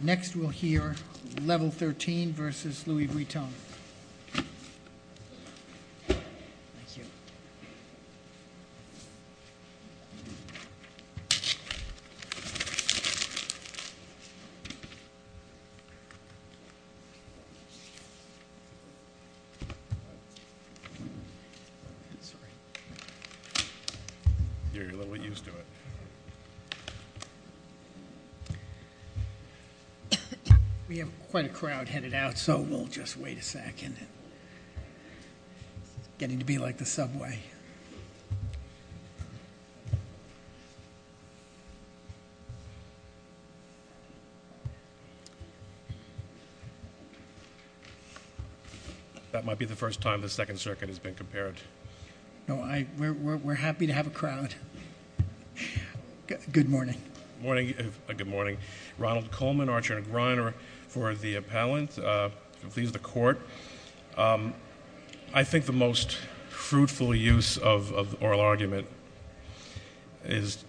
Next we'll hear LVL XIII v. Louis Vuitton. We have quite a crowd headed out, so we'll just wait a second. It's getting to be like the subway. That might be the first time the Second Circuit has been compared. No, we're happy to have a crowd. Good morning. Good morning. Ronald Coleman, Archer & Griner, for the appellant. Please, the Court. I think the most fruitful use of oral argument is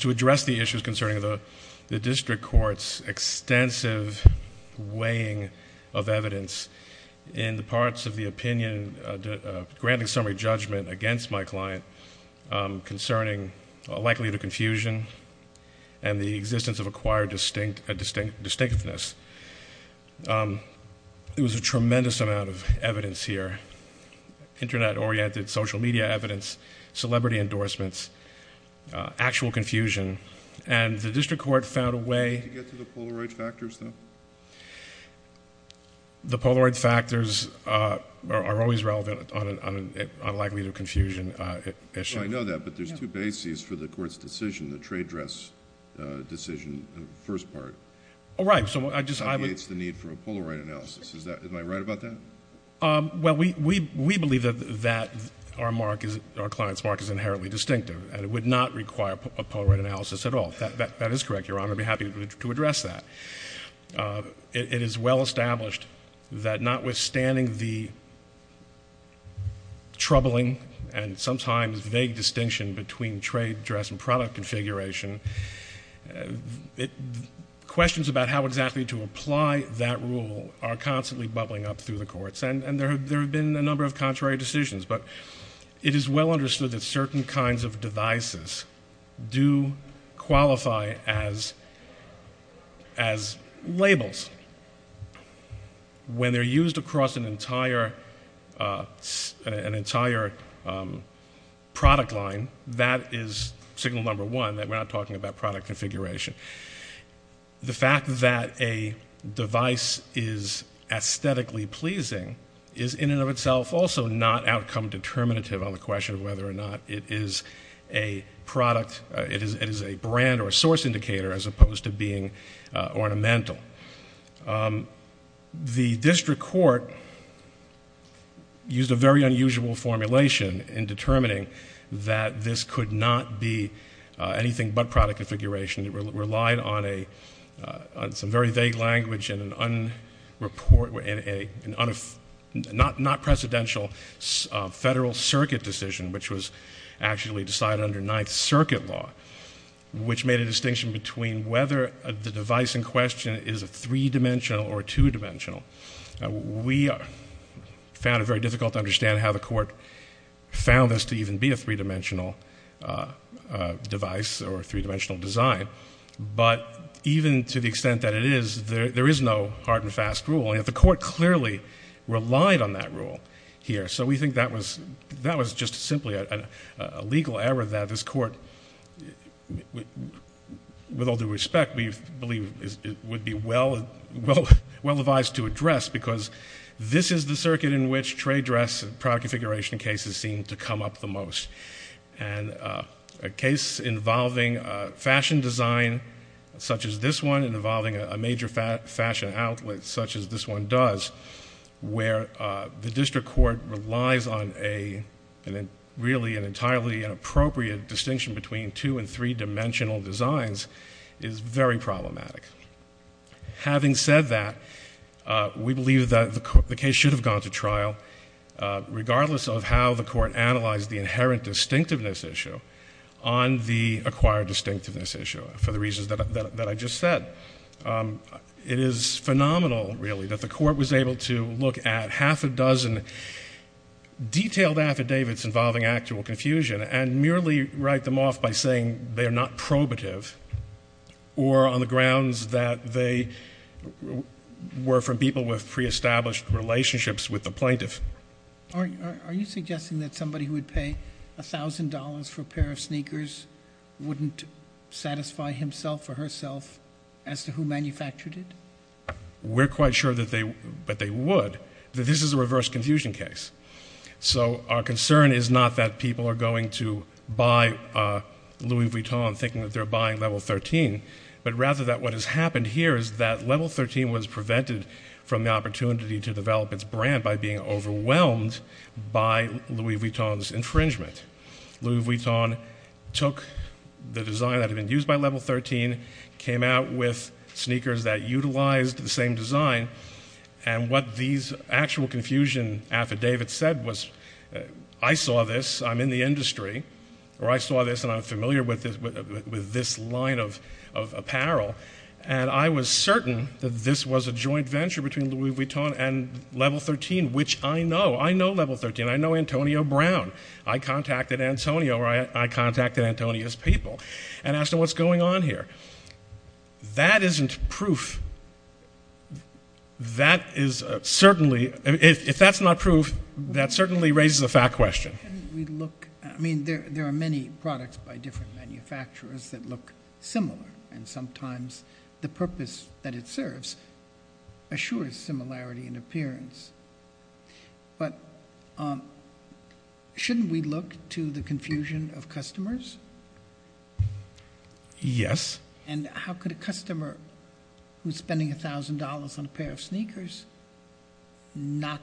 to address the issues concerning the District Court's extensive weighing of evidence in the parts of the opinion granting summary judgment against my client concerning likelihood of confusion and the existence of acquired distinctiveness. There was a tremendous amount of evidence here, Internet-oriented social media evidence, celebrity endorsements, actual confusion, and the District Court found a way Did you get to the Polaroid factors, though? The Polaroid factors are always relevant on a likelihood of confusion issue. I know that, but there's two bases for the Court's decision, the trade dress decision in the first part. Oh, right. It indicates the need for a Polaroid analysis. Am I right about that? Well, we believe that our client's mark is inherently distinctive, and it would not require a Polaroid analysis at all. That is correct, Your Honor. I'd be happy to address that. It is well established that notwithstanding the troubling and sometimes vague distinction between trade dress and product configuration, questions about how exactly to apply that rule are constantly bubbling up through the courts, and there have been a number of contrary decisions. It is well understood that certain kinds of devices do qualify as labels. When they're used across an entire product line, that is signal number one that we're not talking about product configuration. The fact that a device is aesthetically pleasing is in and of itself also not outcome determinative on the question of whether or not it is a product, it is a brand or a source indicator as opposed to being ornamental. The district court used a very unusual formulation in determining that this could not be anything but product configuration. It relied on some very vague language and a not-precedential Federal Circuit decision, which was actually decided under Ninth Circuit law, which made a distinction between whether the device in question is a three-dimensional or a two-dimensional. We found it very difficult to understand how the court found this to even be a three-dimensional device or a three-dimensional design, but even to the extent that it is, there is no hard and fast rule. The court clearly relied on that rule here, so we think that was just simply a legal error that this court, with all due respect, we believe would be well-advised to address because this is the circuit in which trade dress and product configuration cases seem to come up the most. A case involving fashion design such as this one and involving a major fashion outlet such as this one does, where the district court relies on really an entirely inappropriate distinction between two- and three-dimensional designs, is very problematic. Having said that, we believe that the case should have gone to trial regardless of how the court analyzed the inherent distinctiveness issue on the acquired distinctiveness issue for the reasons that I just said. It is phenomenal, really, that the court was able to look at half a dozen detailed affidavits involving actual confusion and merely write them off by saying they are not probative or on the grounds that they were from people with pre-established relationships with the plaintiff. Are you suggesting that somebody who would pay $1,000 for a pair of sneakers wouldn't satisfy himself or herself as to who manufactured it? We're quite sure that they would, but this is a reverse confusion case. So our concern is not that people are going to buy Louis Vuitton thinking that they're buying level 13, but rather that what has happened here is that level 13 was prevented from the opportunity to develop its brand by being overwhelmed by Louis Vuitton's infringement. Louis Vuitton took the design that had been used by level 13, came out with sneakers that utilized the same design, and what these actual confusion affidavits said was I saw this, I'm in the industry, or I saw this and I'm familiar with this line of apparel, and I was certain that this was a joint venture between Louis Vuitton and level 13, which I know. I know level 13. I know Antonio Brown. I contacted Antonio or I contacted Antonio's people and asked them what's going on here. That isn't proof. That is certainly, if that's not proof, that certainly raises a fact question. I mean, there are many products by different manufacturers that look similar, and sometimes the purpose that it serves assures similarity in appearance. But shouldn't we look to the confusion of customers? Yes. And how could a customer who's spending $1,000 on a pair of sneakers not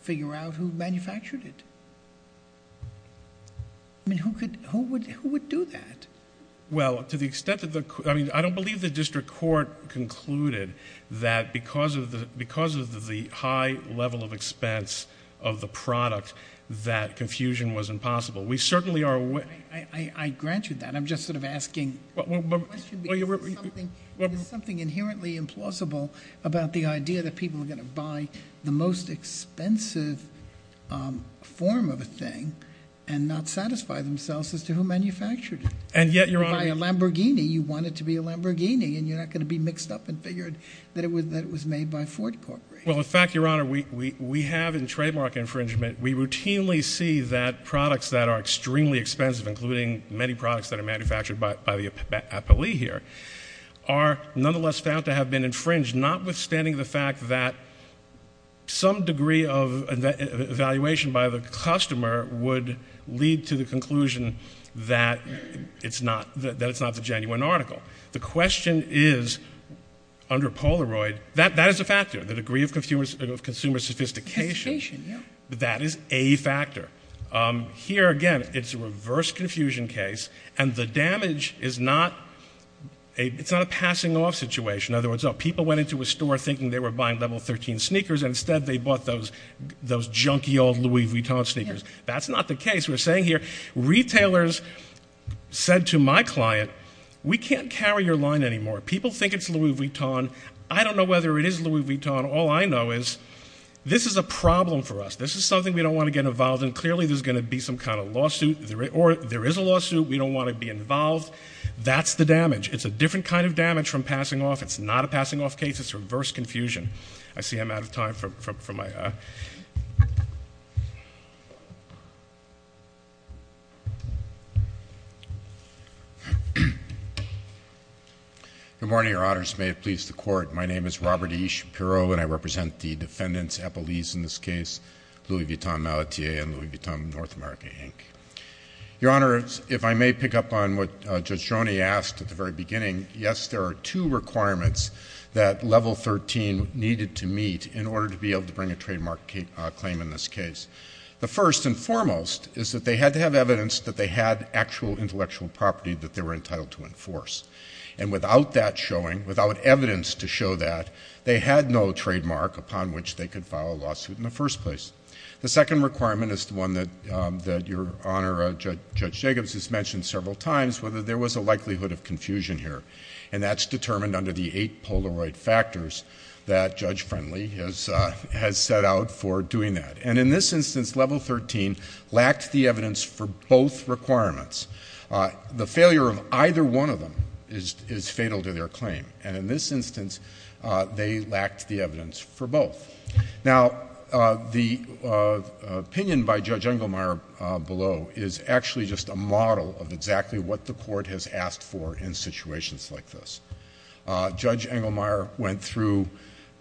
figure out who manufactured it? I mean, who would do that? Well, to the extent that the – I mean, I don't believe the district court concluded that because of the high level of expense of the product, that confusion was impossible. I grant you that. I'm just sort of asking the question because there's something inherently implausible about the idea that people are going to buy the most expensive form of a thing and not satisfy themselves as to who manufactured it. And yet, Your Honor – You buy a Lamborghini, you want it to be a Lamborghini, and you're not going to be mixed up and figured that it was made by Ford Corporation. Well, in fact, Your Honor, we have in trademark infringement, we routinely see that products that are extremely expensive, including many products that are manufactured by the appellee here, are nonetheless found to have been infringed, notwithstanding the fact that some degree of evaluation by the customer would lead to the conclusion that it's not the genuine article. The question is, under Polaroid, that is a factor, the degree of consumer sophistication. That is a factor. Here, again, it's a reverse confusion case, and the damage is not – it's not a passing off situation. In other words, people went into a store thinking they were buying level 13 sneakers, and instead they bought those junky old Louis Vuitton sneakers. That's not the case. We're saying here, retailers said to my client, we can't carry your line anymore. People think it's Louis Vuitton. I don't know whether it is Louis Vuitton. All I know is this is a problem for us. This is something we don't want to get involved in. Clearly, there's going to be some kind of lawsuit, or there is a lawsuit. We don't want to be involved. That's the damage. It's a different kind of damage from passing off. It's not a passing off case. It's reverse confusion. I see I'm out of time for my – Good morning, Your Honors. May it please the Court. My name is Robert E. Shapiro, and I represent the defendants' appellees in this case, Louis Vuitton Malattie and Louis Vuitton North America, Inc. Your Honors, if I may pick up on what Judge Joni asked at the very beginning, yes, there are two requirements that level 13 needed to meet in order to be able to bring a trademark claim in this case. The first and foremost is that they had to have evidence that they had actual intellectual property that they were entitled to enforce. And without that showing, without evidence to show that, they had no trademark upon which they could file a lawsuit in the first place. The second requirement is the one that Your Honor, Judge Jacobs, has mentioned several times, whether there was a likelihood of confusion here. And that's determined under the eight Polaroid factors that Judge Friendly has set out for doing that. And in this instance, level 13 lacked the evidence for both requirements. The failure of either one of them is fatal to their claim. And in this instance, they lacked the evidence for both. Now, the opinion by Judge Engelmeyer below is actually just a model of exactly what the Court has asked for in situations like this. Judge Engelmeyer went through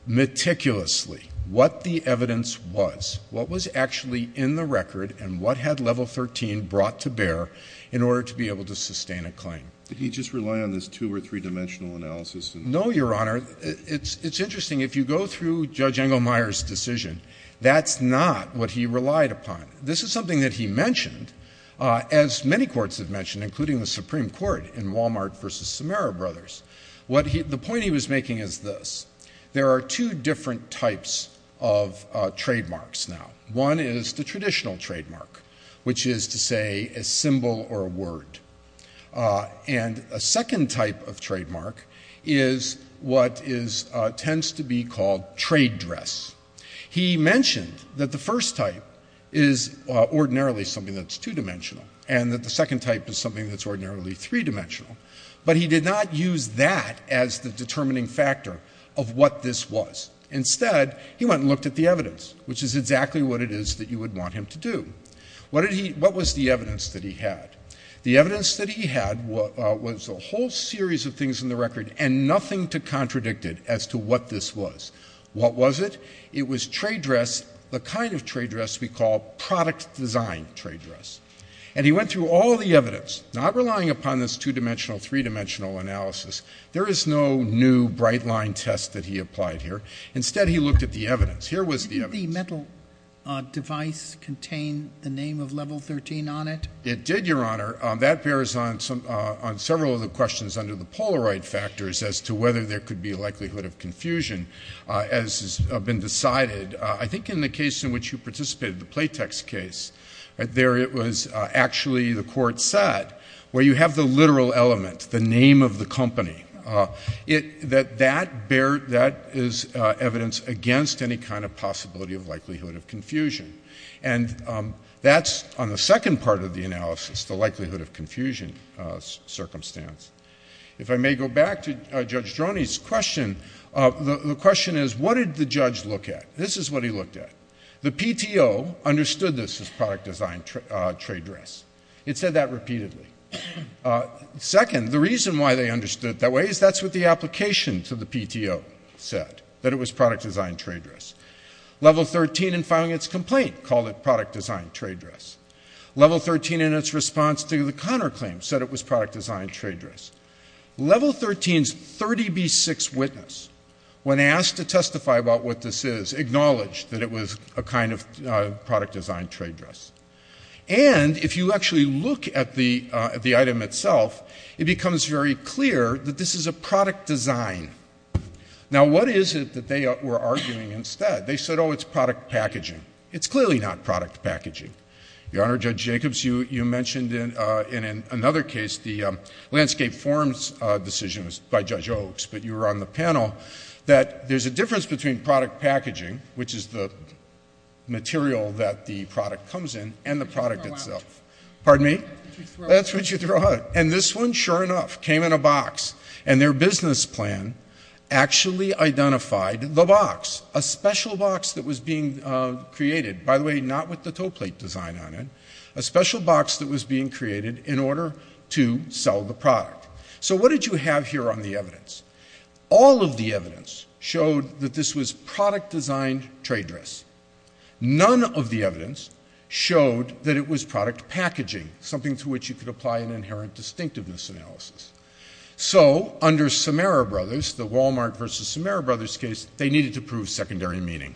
meticulously what the evidence was, what was actually in the record, and what had level 13 brought to bear in order to be able to sustain a claim. Did he just rely on this two- or three-dimensional analysis? No, Your Honor. It's interesting. If you go through Judge Engelmeyer's decision, that's not what he relied upon. This is something that he mentioned, as many courts have mentioned, including the Supreme Court in Walmart v. Samara Brothers. The point he was making is this. There are two different types of trademarks now. One is the traditional trademark, which is to say a symbol or a word. And a second type of trademark is what tends to be called trade dress. He mentioned that the first type is ordinarily something that's two-dimensional and that the second type is something that's ordinarily three-dimensional, but he did not use that as the determining factor of what this was. Instead, he went and looked at the evidence, which is exactly what it is that you would want him to do. What was the evidence that he had? The evidence that he had was a whole series of things in the record and nothing to contradict it as to what this was. What was it? It was trade dress, the kind of trade dress we call product design trade dress. And he went through all the evidence, not relying upon this two-dimensional, three-dimensional analysis. There is no new bright-line test that he applied here. Instead, he looked at the evidence. Here was the evidence. Did the metal device contain the name of Level 13 on it? It did, Your Honor. That bears on several of the questions under the Polaroid factors as to whether there could be a likelihood of confusion, as has been decided. I think in the case in which you participated, the Playtex case, there it was actually the court said, where you have the literal element, the name of the company, that that is evidence against any kind of possibility of likelihood of confusion. And that's on the second part of the analysis, the likelihood of confusion circumstance. If I may go back to Judge Droney's question, the question is, what did the judge look at? This is what he looked at. The PTO understood this as product design trade dress. It said that repeatedly. Second, the reason why they understood it that way is that's what the application to the PTO said, that it was product design trade dress. Level 13, in filing its complaint, called it product design trade dress. Level 13, in its response to the Connor claim, said it was product design trade dress. Level 13's 30B6 witness, when asked to testify about what this is, acknowledged that it was a kind of product design trade dress. And if you actually look at the item itself, it becomes very clear that this is a product design. Now, what is it that they were arguing instead? They said, oh, it's product packaging. It's clearly not product packaging. Your Honor, Judge Jacobs, you mentioned in another case the landscape forums decision by Judge Oaks, but you were on the panel, that there's a difference between product packaging, which is the material that the product comes in, and the product itself. Pardon me? That's what you throw out. And this one, sure enough, came in a box. And their business plan actually identified the box, a special box that was being created. By the way, not with the toe plate design on it. A special box that was being created in order to sell the product. So what did you have here on the evidence? All of the evidence showed that this was product design trade dress. None of the evidence showed that it was product packaging, something to which you could apply an inherent distinctiveness analysis. So, under Samara Brothers, the Walmart versus Samara Brothers case, they needed to prove secondary meaning.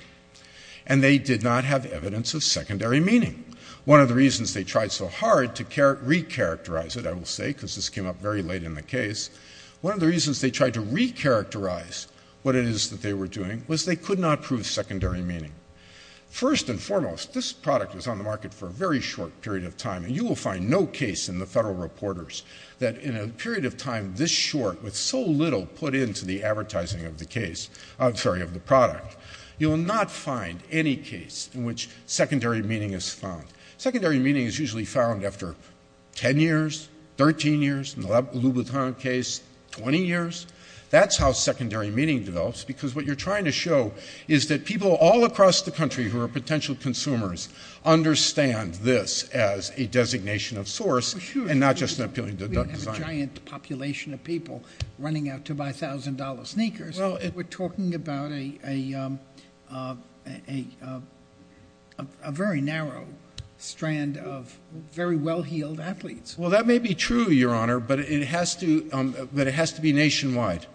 And they did not have evidence of secondary meaning. One of the reasons they tried so hard to recharacterize it, I will say, because this came up very late in the case, one of the reasons they tried to recharacterize what it is that they were doing was they could not prove secondary meaning. First and foremost, this product was on the market for a very short period of time, and you will find no case in the Federal Reporters that in a period of time this short, with so little put into the advertising of the case, I'm sorry, of the product, you will not find any case in which secondary meaning is found. Secondary meaning is usually found after 10 years, 13 years. In the Louboutin case, 20 years. That's how secondary meaning develops, because what you're trying to show is that people all across the country who are potential consumers understand this as a designation of source and not just an appealing design. We have a giant population of people running out to buy $1,000 sneakers. We're talking about a very narrow strand of very well-heeled athletes. Well, that may be true, Your Honor, but it has to be nationwide.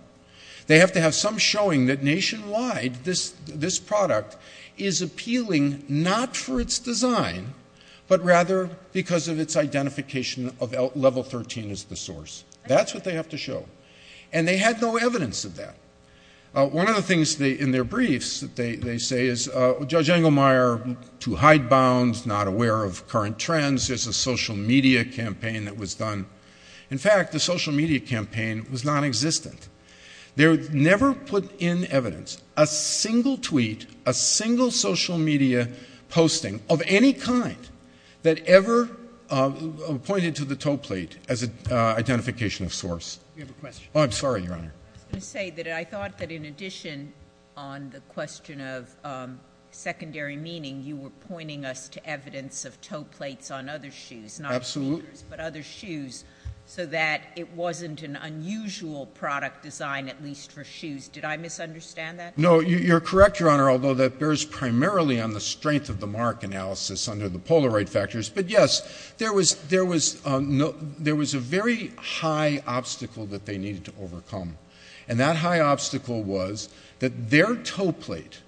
They have to have some showing that nationwide this product is appealing not for its design, but rather because of its identification of level 13 as the source. That's what they have to show. And they had no evidence of that. One of the things in their briefs that they say is, Judge Engelmeyer, too hidebound, not aware of current trends. There's a social media campaign that was done. In fact, the social media campaign was nonexistent. They never put in evidence a single tweet, a single social media posting of any kind that ever pointed to the toe plate as an identification of source. You have a question. Oh, I'm sorry, Your Honor. I was going to say that I thought that in addition on the question of secondary meaning, you were pointing us to evidence of toe plates on other shoes, not sneakers, but other shoes, so that it wasn't an unusual product design, at least for shoes. No, you're correct, Your Honor, although that bears primarily on the strength of the mark analysis under the Polaroid factors. But, yes, there was a very high obstacle that they needed to overcome. And that high obstacle was that their toe plate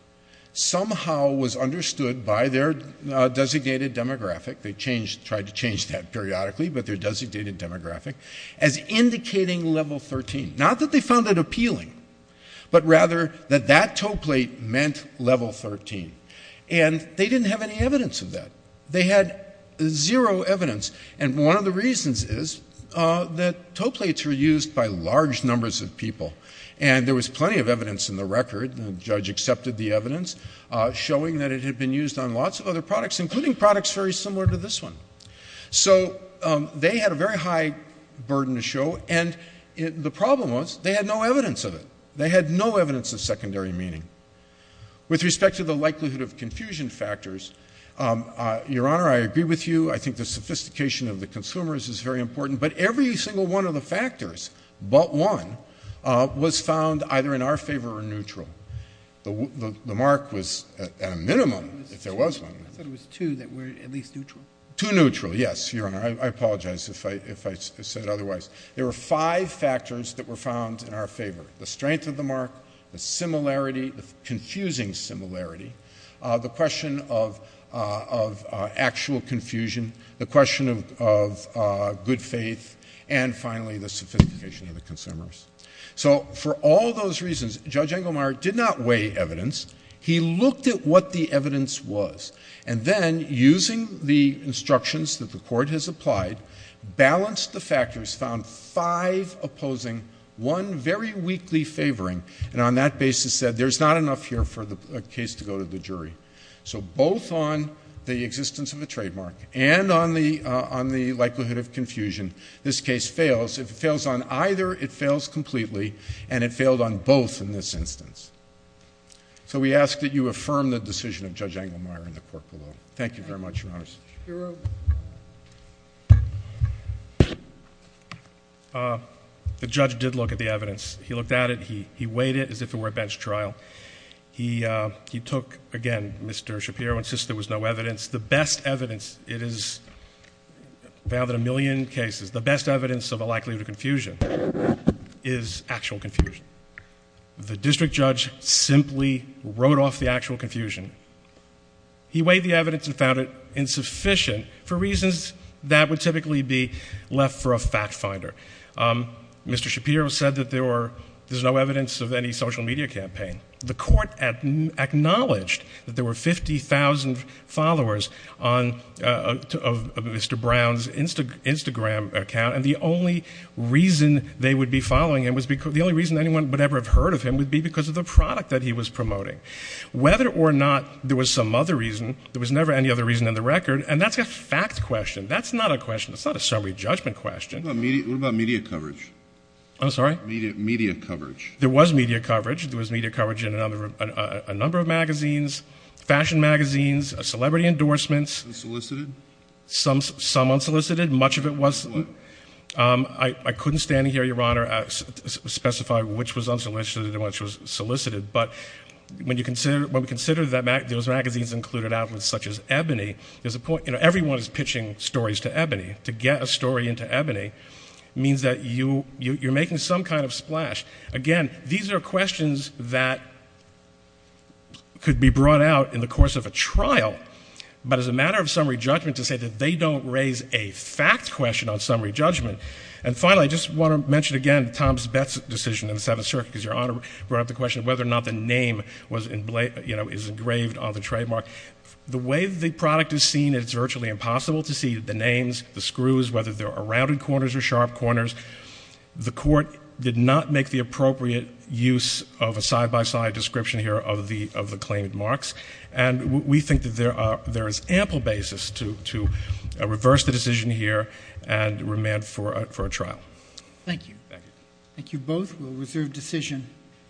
somehow was understood by their designated demographic. They tried to change that periodically, but their designated demographic, as indicating level 13. Not that they found it appealing, but rather that that toe plate meant level 13. And they didn't have any evidence of that. They had zero evidence. And one of the reasons is that toe plates were used by large numbers of people. And there was plenty of evidence in the record, and the judge accepted the evidence, showing that it had been used on lots of other products, including products very similar to this one. So they had a very high burden to show. And the problem was they had no evidence of it. They had no evidence of secondary meaning. With respect to the likelihood of confusion factors, Your Honor, I agree with you. I think the sophistication of the consumers is very important. But every single one of the factors but one was found either in our favor or neutral. The mark was at a minimum, if there was one. I thought it was two that were at least neutral. Two neutral, yes, Your Honor. I apologize if I said otherwise. There were five factors that were found in our favor, the strength of the mark, the similarity, the confusing similarity, the question of actual confusion, the question of good faith, and finally the sophistication of the consumers. So for all those reasons, Judge Engelmeyer did not weigh evidence. He looked at what the evidence was. And then using the instructions that the court has applied, balanced the factors, found five opposing, one very weakly favoring, and on that basis said, there's not enough here for the case to go to the jury. So both on the existence of a trademark and on the likelihood of confusion, this case fails. If it fails on either, it fails completely. And it failed on both in this instance. So we ask that you affirm the decision of Judge Engelmeyer and the court below. Thank you very much, Your Honors. Shapiro. The judge did look at the evidence. He looked at it. He weighed it as if it were a bench trial. He took, again, Mr. Shapiro insists there was no evidence. The best evidence, it is found in a million cases, the best evidence of a likelihood of confusion is actual confusion. The district judge simply wrote off the actual confusion. He weighed the evidence and found it insufficient for reasons that would typically be left for a fact finder. Mr. Shapiro said that there's no evidence of any social media campaign. The court acknowledged that there were 50,000 followers of Mr. Brown's Instagram account, and the only reason they would be following him, the only reason anyone would ever have heard of him, would be because of the product that he was promoting. Whether or not there was some other reason, there was never any other reason in the record, and that's a fact question. That's not a question. That's not a summary judgment question. What about media coverage? I'm sorry? Media coverage. There was media coverage. There was media coverage in a number of magazines, fashion magazines, celebrity endorsements. Unsolicited? Some unsolicited. Much of it was. I couldn't stand here, Your Honor, specify which was unsolicited and which was solicited, but when we consider that those magazines included outlets such as Ebony, there's a point, you know, everyone is pitching stories to Ebony. To get a story into Ebony means that you're making some kind of splash. Again, these are questions that could be brought out in the course of a trial, but it's a matter of summary judgment to say that they don't raise a fact question on summary judgment. And finally, I just want to mention again Tom's Betts decision in the Seventh Circuit, because Your Honor brought up the question of whether or not the name was engraved on the trademark. The way the product is seen, it's virtually impossible to see the names, the screws, whether there are rounded corners or sharp corners. The court did not make the appropriate use of a side-by-side description here of the claimed marks, and we think that there is ample basis to reverse the decision here and remand for a trial. Thank you. Thank you. Thank you both. We'll reserve decision.